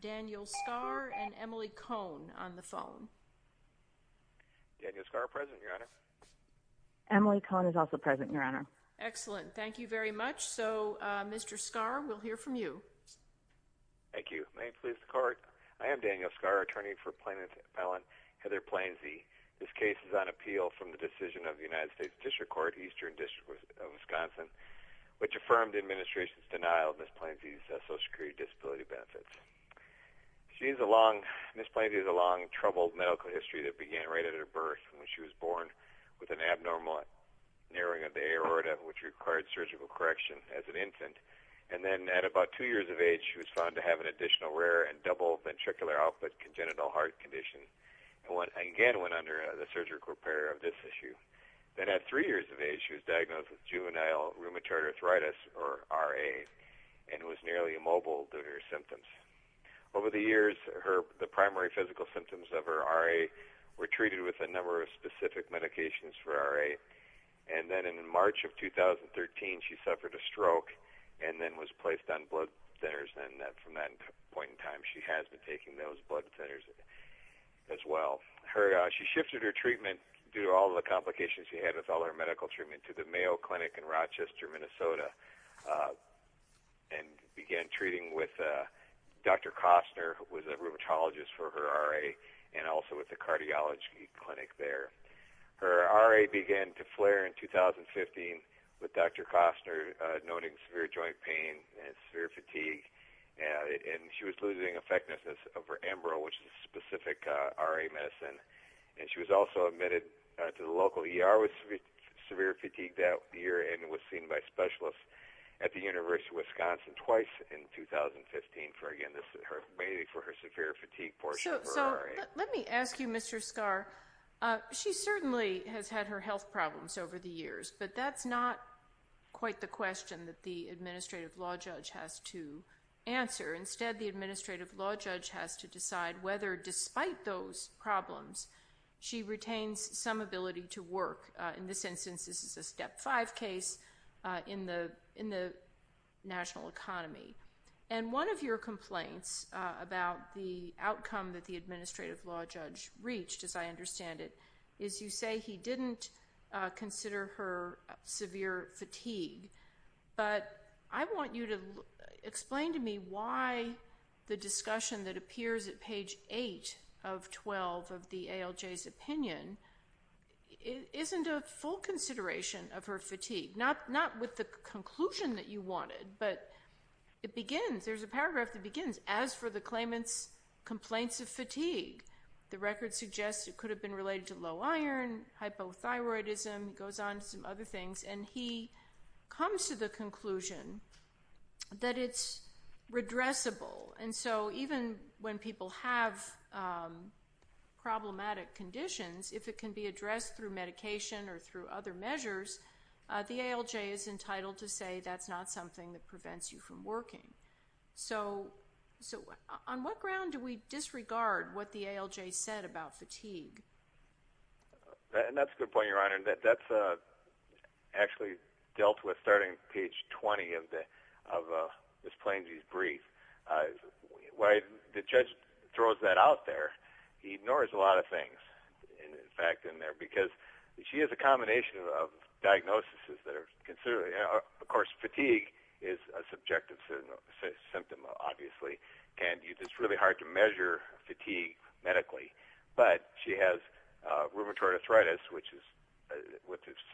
Daniel Skarr and Emily Cohn on the phone. Daniel Skarr present, Your Honor. Emily Cohn is also present, Your Honor. Excellent. Thank you very much. So, Mr. Skarr, we'll hear from you. Thank you. May it please the Court, I am Daniel Skarr, attorney for plaintiff's appellant Heather Plainse. This case is on appeal from the decision of the United States District Court, Eastern District of Wisconsin, which affirmed the administration's denial of Ms. Plainse's social security disability benefits. Ms. Plainse has a long, troubled medical history that began right at her birth, when she was born with an abnormal narrowing of the aorta, which required surgical correction as an infant. And then at about two years of age, she was found to have an additional rare and double ventricular output congenital heart condition, and again went under the surgical repair of this issue. Then at three years of age, she was diagnosed with juvenile rheumatoid arthritis, or RA, and was nearly immobile due to her symptoms. Over the years, the primary physical symptoms of her RA were treated with a number of specific medications for RA, and then in March of 2013, she suffered a stroke and then was placed on blood thinners, and from that point in time, she has been taking those blood thinners as well. She shifted her treatment, due to all the complications she had with all her medical treatment, to the Mayo Clinic in Rochester, Minnesota, and began treating with Dr. Kostner, who was a rheumatologist for her RA, and also with the cardiology clinic there. Her RA began to flare in 2015, with Dr. Kostner noting severe joint pain and severe fatigue, and she was losing effectiveness of her Embril, which is a specific RA medicine. She was also admitted to the local ER with severe fatigue that year and was seen by specialists at the University of Wisconsin twice in 2015, again for her severe fatigue portion of her RA. Let me ask you, Mr. Skahr. She certainly has had her health problems over the years, but that's not quite the question that the administrative law judge has to answer. Instead, the administrative law judge has to decide whether, despite those problems, she retains some ability to work. In this instance, this is a Step 5 case in the national economy. And one of your complaints about the outcome that the administrative law judge reached, as I understand it, is you say he didn't consider her severe fatigue. But I want you to explain to me why the discussion that appears at page 8 of 12 of the ALJ's opinion isn't a full consideration of her fatigue, not with the conclusion that you wanted, but it begins, there's a paragraph that begins, as for the claimant's complaints of fatigue, the record suggests it could have been related to low iron, hypothyroidism, he goes on to some other things, and he comes to the conclusion that it's redressable. And so even when people have problematic conditions, if it can be addressed through medication or through other measures, the ALJ is entitled to say that's not something that prevents you from working. So on what ground do we disregard what the ALJ said about fatigue? And that's a good point, Your Honor. That's actually dealt with starting page 20 of Ms. Plansky's brief. When the judge throws that out there, he ignores a lot of things, in fact, in there, because she has a combination of diagnoses that are considered. Of course, fatigue is a subjective symptom, obviously, and it's really hard to measure fatigue medically. But she has rheumatoid arthritis, which is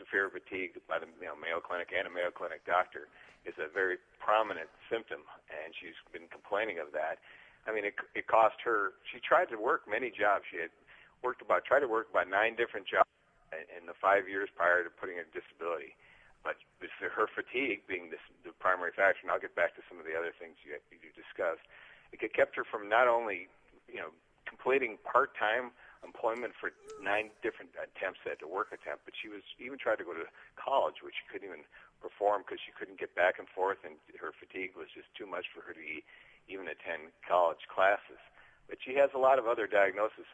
severe fatigue, by the Mayo Clinic and a Mayo Clinic doctor is a very prominent symptom, and she's been complaining of that. I mean, it cost her, she tried to work many jobs. She had tried to work about nine different jobs in the five years prior to putting her disability. But her fatigue being the primary factor, and I'll get back to some of the other things you discussed, it kept her from not only completing part-time employment for nine different attempts, a work attempt, but she even tried to go to college, which she couldn't even perform because she couldn't get back and forth, and her fatigue was just too much for her to even attend college classes. But she has a lot of other diagnoses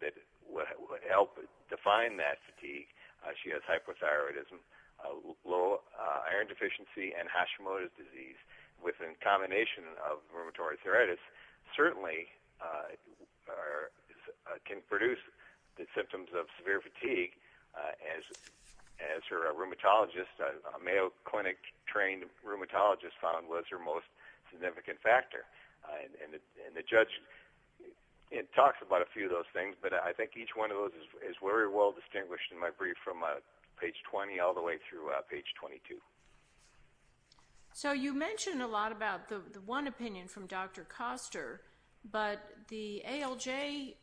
that would help define that fatigue. She has hypothyroidism, low iron deficiency, and Hashimoto's disease, which in combination of rheumatoid arthritis certainly can produce the symptoms of severe fatigue, as her rheumatologist, a Mayo Clinic-trained rheumatologist, found was her most significant factor. And the judge talks about a few of those things, but I think each one of those is very well distinguished in my brief from page 20 all the way through page 22. So you mentioned a lot about the one opinion from Dr. Koster, but the ALJ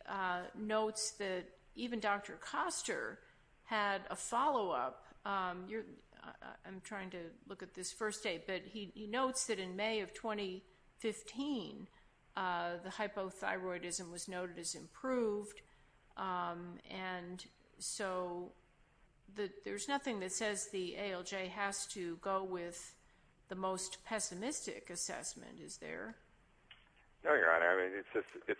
notes that even Dr. Koster had a follow-up. I'm trying to look at this first date, but he notes that in May of 2015, the hypothyroidism was noted as improved, and so there's nothing that says the ALJ has to go with the most pessimistic assessment, is there? No, Your Honor. I mean, it's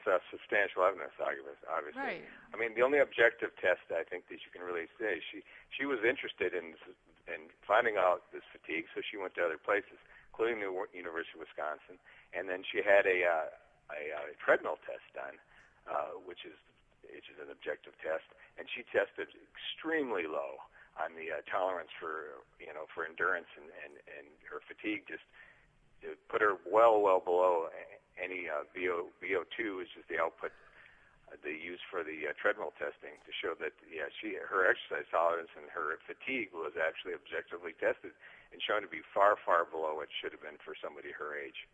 a substantial evidence argument, obviously. I mean, the only objective test I think that you can really say is she was interested in finding out this fatigue, so she went to other places, including the University of Wisconsin, and then she had a treadmill test done, which is an objective test, and she tested extremely low on the tolerance for endurance, and her fatigue just put her well, well below any VO2, which is the output they use for the treadmill testing, to show that her exercise tolerance and her fatigue was actually objectively tested and shown to be far, far below what it should have been for somebody her age.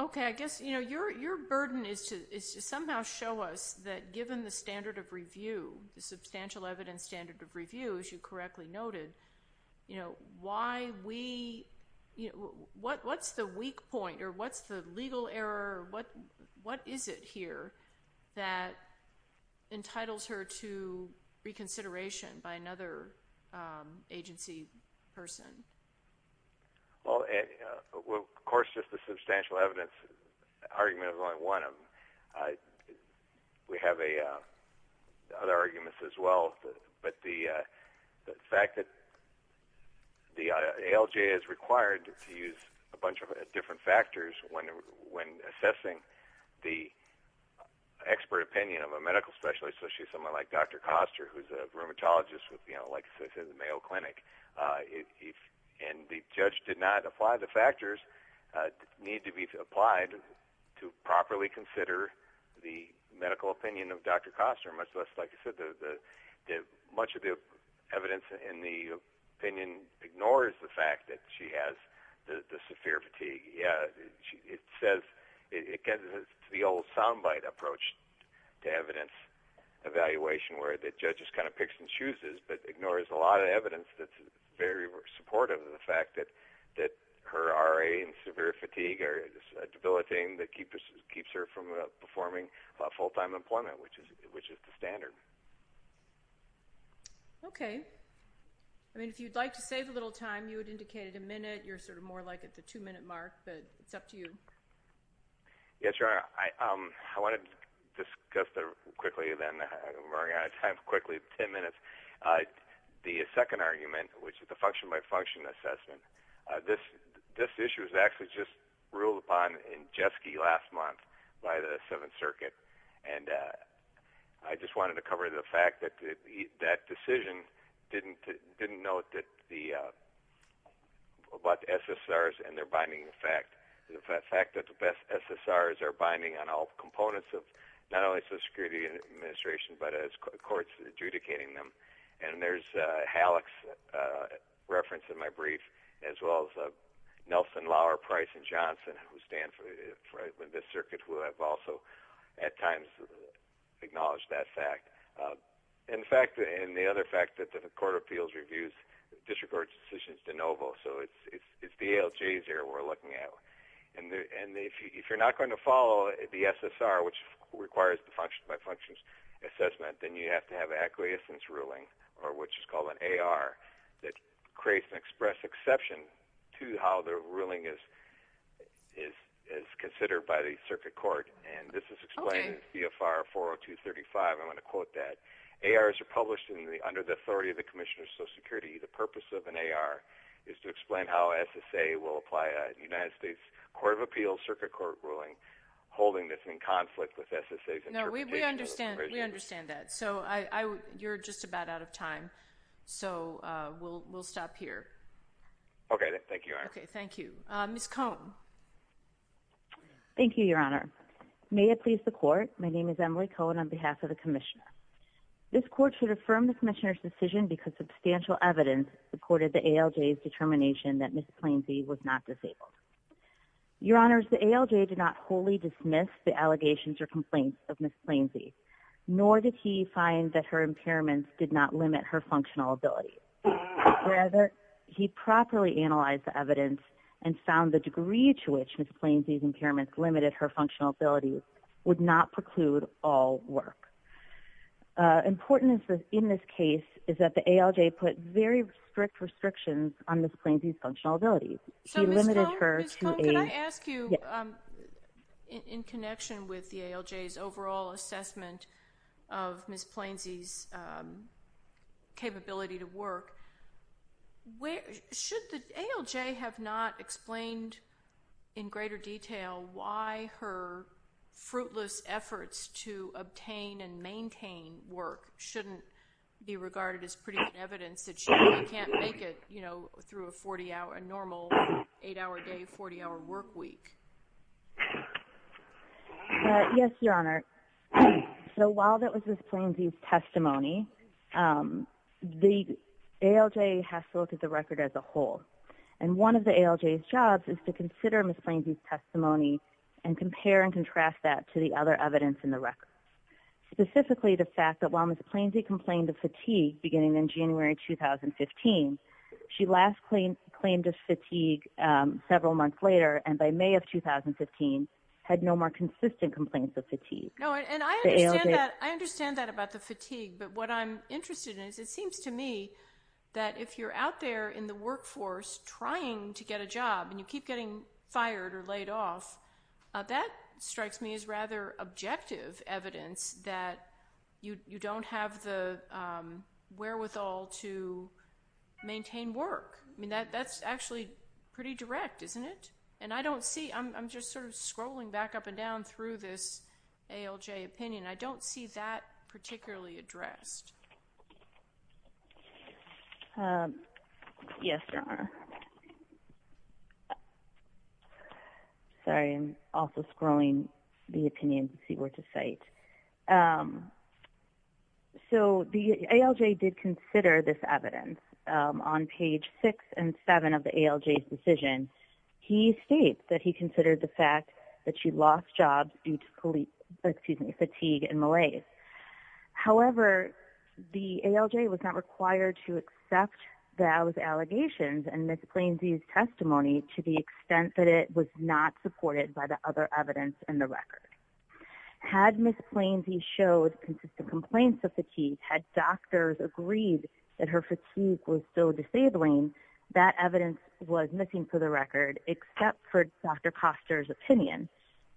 Okay. I guess, you know, your burden is to somehow show us that given the standard of review, the substantial evidence standard of review, as you correctly noted, you know, why we, you know, what's the weak point, or what's the legal error, or what is it here that entitles her to reconsideration by another agency person? Well, of course, just the substantial evidence argument is only one of them. We have other arguments as well, but the fact that the ALJ is required to use a bunch of different factors when assessing the expert opinion of a medical specialist, so she's someone like Dr. Koster, who's a rheumatologist with, you know, like I said, the Mayo Clinic, and the judge did not apply the factors that need to be applied to properly consider the medical opinion of Dr. Koster, much less, like I said, much of the evidence in the opinion ignores the fact that she has the severe fatigue. Yeah, it says it gets the old soundbite approach to evidence evaluation where the judge just kind of picks and chooses but ignores a lot of evidence that's very supportive of the fact that her RA and severe fatigue are debilitating that keeps her from performing full-time employment, which is the standard. Okay. I mean, if you'd like to save a little time, you had indicated a minute. You're sort of more like at the two-minute mark, but it's up to you. Yes, Your Honor. I wanted to discuss that quickly, then we're running out of time. Quickly, ten minutes. The second argument, which is the function-by-function assessment, this issue was actually just ruled upon in Jeske last month by the Seventh Circuit, and I just wanted to cover the fact that that decision didn't note the SSRs and their binding effect, the fact that the SSRs are binding on all components of not only Social Security Administration but as courts adjudicating them, and there's Halleck's reference in my brief as well as Nelson, Lauer, Price, and Johnson, who stand for this circuit, who have also at times acknowledged that fact. And the other fact that the Court of Appeals reviews disregarded decisions de novo, so it's the ALJs here we're looking at. And if you're not going to follow the SSR, which requires the function-by-functions assessment, then you have to have an acquiescence ruling, or what's called an AR, that creates an express exception to how the ruling is considered by the circuit court. And this is explained in CFR 40235. I want to quote that. ARs are published under the authority of the Commissioner of Social Security. The purpose of an AR is to explain how SSA will apply a United States Court of Appeals circuit court ruling, holding this in conflict with SSA's interpretation of the provision. We understand that. So you're just about out of time, so we'll stop here. Okay, thank you, Your Honor. Okay, thank you. Ms. Cohn. Thank you, Your Honor. May it please the Court, my name is Emily Cohn on behalf of the Commissioner. This Court should affirm the Commissioner's decision because substantial evidence supported the ALJ's determination that Ms. Plainzee was not disabled. Your Honor, the ALJ did not wholly dismiss the allegations or complaints of Ms. Plainzee, nor did he find that her impairments did not limit her functional abilities. Rather, he properly analyzed the evidence and found the degree to which Ms. Plainzee's impairments limited her functional abilities would not preclude all work. Important in this case is that the ALJ put very strict restrictions on Ms. Plainzee's functional abilities. So, Ms. Cohn, can I ask you, in connection with the ALJ's overall assessment of Ms. Plainzee's capability to work, should the ALJ have not explained in greater detail why her fruitless efforts to obtain and maintain work shouldn't be regarded as pretty good evidence that she really can't make it, you know, through a normal 8-hour day, 40-hour work week? Yes, Your Honor. So while that was Ms. Plainzee's testimony, the ALJ has to look at the record as a whole. And one of the ALJ's jobs is to consider Ms. Plainzee's testimony and compare and contrast that to the other evidence in the record, specifically the fact that while Ms. Plainzee complained of fatigue beginning in January 2015, she last claimed of fatigue several months later and by May of 2015 had no more consistent complaints of fatigue. No, and I understand that about the fatigue, but what I'm interested in is it seems to me that if you're out there in the workforce trying to get a job and you keep getting fired or laid off, that strikes me as rather objective evidence that you don't have the wherewithal to maintain work. I mean, that's actually pretty direct, isn't it? And I don't see – I'm just sort of scrolling back up and down through this ALJ opinion. I don't see that particularly addressed. Yes, Your Honor. Sorry, I'm also scrolling the opinion to see what to cite. So the ALJ did consider this evidence. On page 6 and 7 of the ALJ's decision, he states that he considered the fact that she lost jobs due to fatigue and malaise. However, the ALJ was not required to accept those allegations in Ms. Plainzee's testimony to the extent that it was not supported by the other evidence in the record. Had Ms. Plainzee showed consistent complaints of fatigue, had doctors agreed that her fatigue was still disabling, that evidence was missing for the record except for Dr. Koster's opinion.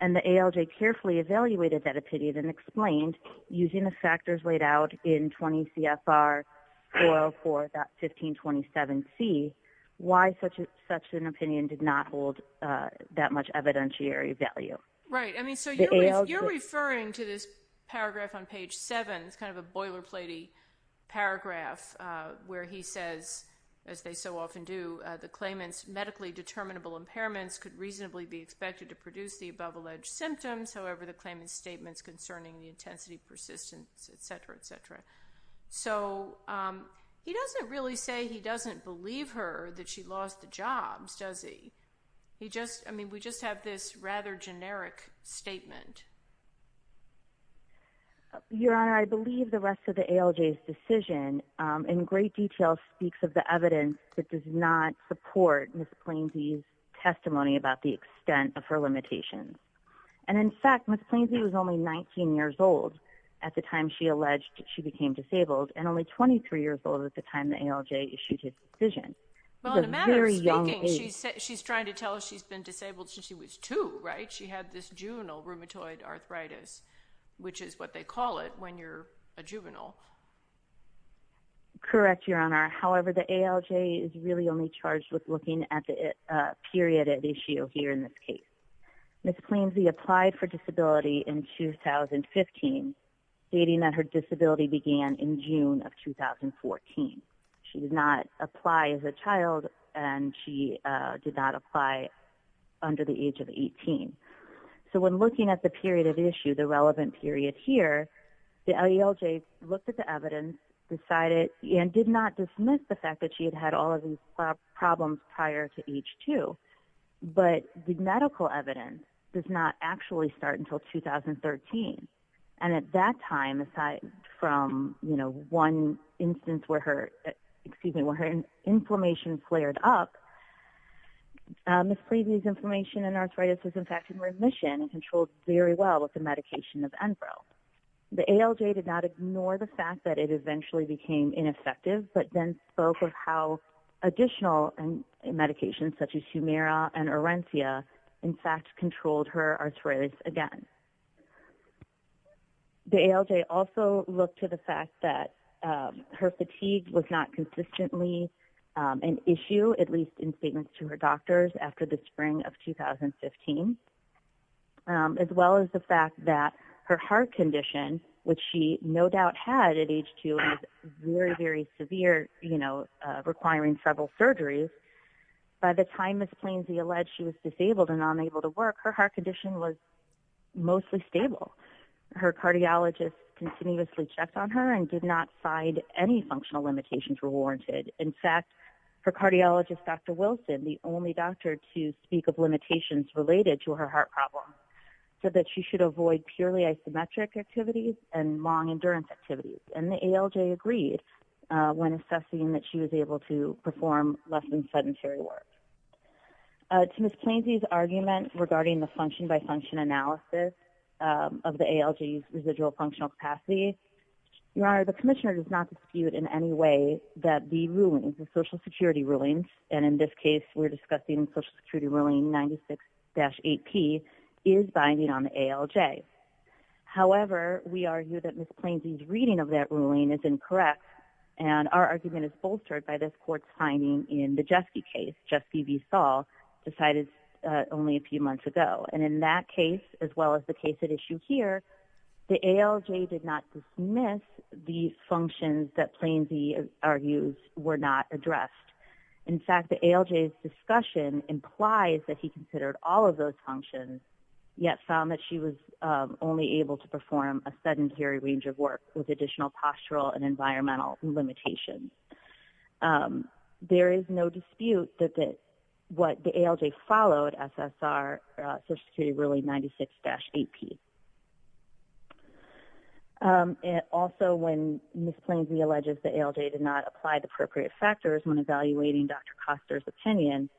And the ALJ carefully evaluated that opinion and explained, using the factors laid out in 20 CFR 404.1527C, why such an opinion did not hold that much evidentiary value. Right. I mean, so you're referring to this paragraph on page 7. It's kind of a boilerplate-y paragraph where he says, as they so often do, the claimant's medically determinable impairments could reasonably be expected to produce the above-alleged symptoms. However, the claimant's statements concerning the intensity, persistence, et cetera, et cetera. So he doesn't really say he doesn't believe her that she lost the jobs, does he? I mean, we just have this rather generic statement. Your Honor, I believe the rest of the ALJ's decision in great detail speaks of the evidence that does not support Ms. Plainzee's testimony about the extent of her limitations. And in fact, Ms. Plainzee was only 19 years old at the time she alleged she became disabled and only 23 years old at the time the ALJ issued its decision. Well, in a manner of speaking, she's trying to tell us she's been disabled since she was 2, right? She had this juvenile rheumatoid arthritis, which is what they call it when you're a juvenile. Correct, Your Honor. However, the ALJ is really only charged with looking at the period at issue here in this case. Ms. Plainzee applied for disability in 2015, stating that her disability began in June of 2014. She did not apply as a child, and she did not apply under the age of 18. So when looking at the period of issue, the relevant period here, the ALJ looked at the evidence, decided and did not dismiss the fact that she had had all of these problems prior to age 2. But the medical evidence does not actually start until 2013. And at that time, aside from one instance where her inflammation flared up, Ms. Plainzee's inflammation and arthritis was in fact in remission and controlled very well with the medication of Enveril. The ALJ did not ignore the fact that it eventually became ineffective, but then spoke of how additional medications, such as Humira and Orenthia, in fact controlled her arthritis again. The ALJ also looked to the fact that her fatigue was not consistently an issue, at least in statements to her doctors after the spring of 2015, as well as the fact that her heart condition, which she no doubt had at age 2 and was very, very severe, requiring several surgeries. By the time Ms. Plainzee alleged she was disabled and unable to work, her heart condition was mostly stable. Her cardiologists continuously checked on her and did not find any functional limitations were warranted. In fact, her cardiologist, Dr. Wilson, the only doctor to speak of limitations related to her heart problem, said that she should avoid purely isometric activities and long endurance activities. And the ALJ agreed when assessing that she was able to perform less than sedentary work. To Ms. Plainzee's argument regarding the function-by-function analysis The Commissioner does not dispute in any way that the rulings, the Social Security rulings, and in this case we're discussing Social Security ruling 96-8P, is binding on the ALJ. However, we argue that Ms. Plainzee's reading of that ruling is incorrect and our argument is bolstered by this court's finding in the Jeske case, Jeske v. Saul, decided only a few months ago. And in that case, as well as the case at issue here, the ALJ did not dismiss the functions that Plainzee argues were not addressed. In fact, the ALJ's discussion implies that he considered all of those functions, yet found that she was only able to perform a sedentary range of work with additional postural and environmental limitations. There is no dispute that what the ALJ followed, SSR Social Security ruling 96-8P. Also, when Ms. Plainzee alleges the ALJ did not apply the appropriate factors when evaluating Dr. Koster's opinion,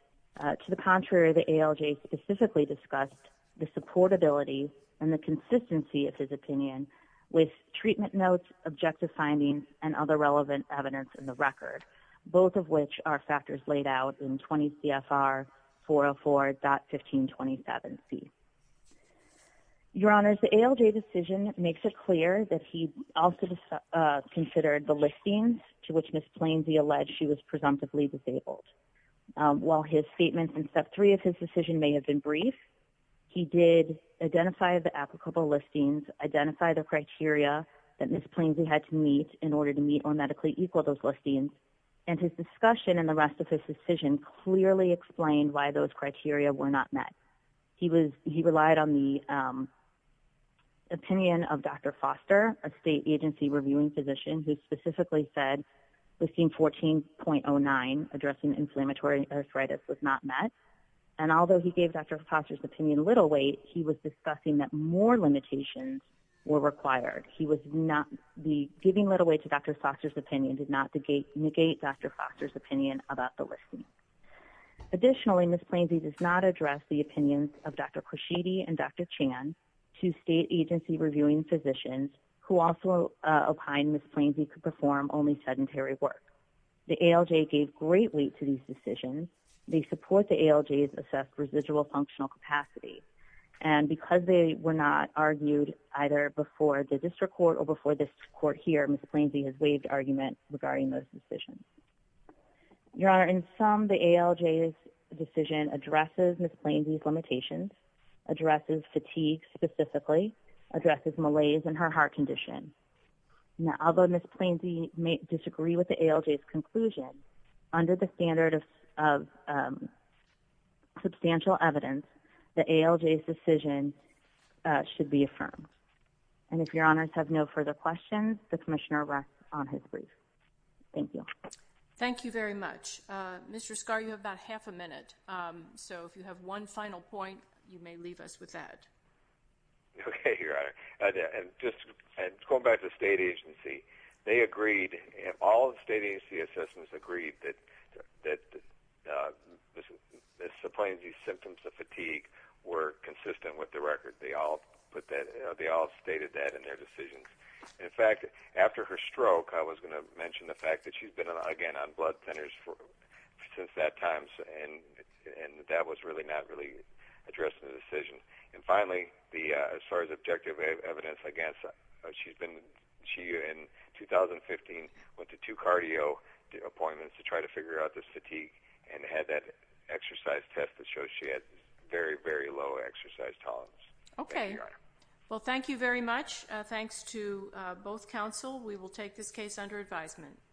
to the contrary, the ALJ specifically discussed the supportability and the consistency of his opinion with treatment notes, objective findings, and other relevant evidence in the record, both of which are factors laid out in 20 CFR 404.1527C. Your Honors, the ALJ decision makes it clear that he also considered the listings to which Ms. Plainzee alleged she was presumptively disabled. While his statements in Step 3 of his decision may have been brief, he did identify the applicable listings, identify the criteria that Ms. Plainzee had to meet in order to meet or medically equal those listings, and his discussion in the rest of his decision clearly explained why those criteria were not met. He relied on the opinion of Dr. Foster, a state agency reviewing physician, who specifically said listing 14.09 addressing inflammatory arthritis was not met, and although he gave Dr. Koster's opinion little weight, he was discussing that more limitations were required. The giving little weight to Dr. Foster's opinion did not negate Dr. Foster's opinion about the listing. Additionally, Ms. Plainzee does not address the opinions of Dr. Koshidi and Dr. Chan, two state agency reviewing physicians, who also opined Ms. Plainzee could perform only sedentary work. The ALJ gave great weight to these decisions. They support the ALJ's assessed residual functional capacity, and because they were not argued either before the district court or before this court here, Ms. Plainzee has waived argument regarding those decisions. Your Honor, in sum, the ALJ's decision addresses Ms. Plainzee's limitations, addresses fatigue specifically, addresses malaise in her heart condition. Although Ms. Plainzee may disagree with the ALJ's conclusion, under the standard of substantial evidence, the ALJ's decision should be affirmed. And if Your Honors have no further questions, the Commissioner rests on his brief. Thank you. Thank you very much. Mr. Scarr, you have about half a minute, so if you have one final point, you may leave us with that. Okay, Your Honor. Just going back to the state agency, they agreed, all state agency assessments agreed that Ms. Plainzee's symptoms of fatigue were consistent with the record. They all stated that in their decisions. In fact, after her stroke, I was going to mention the fact that she's been, again, on blood thinners since that time, and that was not really addressed in the decision. And finally, as far as objective evidence, she, in 2015, went to two cardio appointments to try to figure out the fatigue and had that exercise test that showed she had very, very low exercise tolerance. Okay. Thank you, Your Honor. Well, thank you very much. Thanks to both counsel. We will take this case under advisement.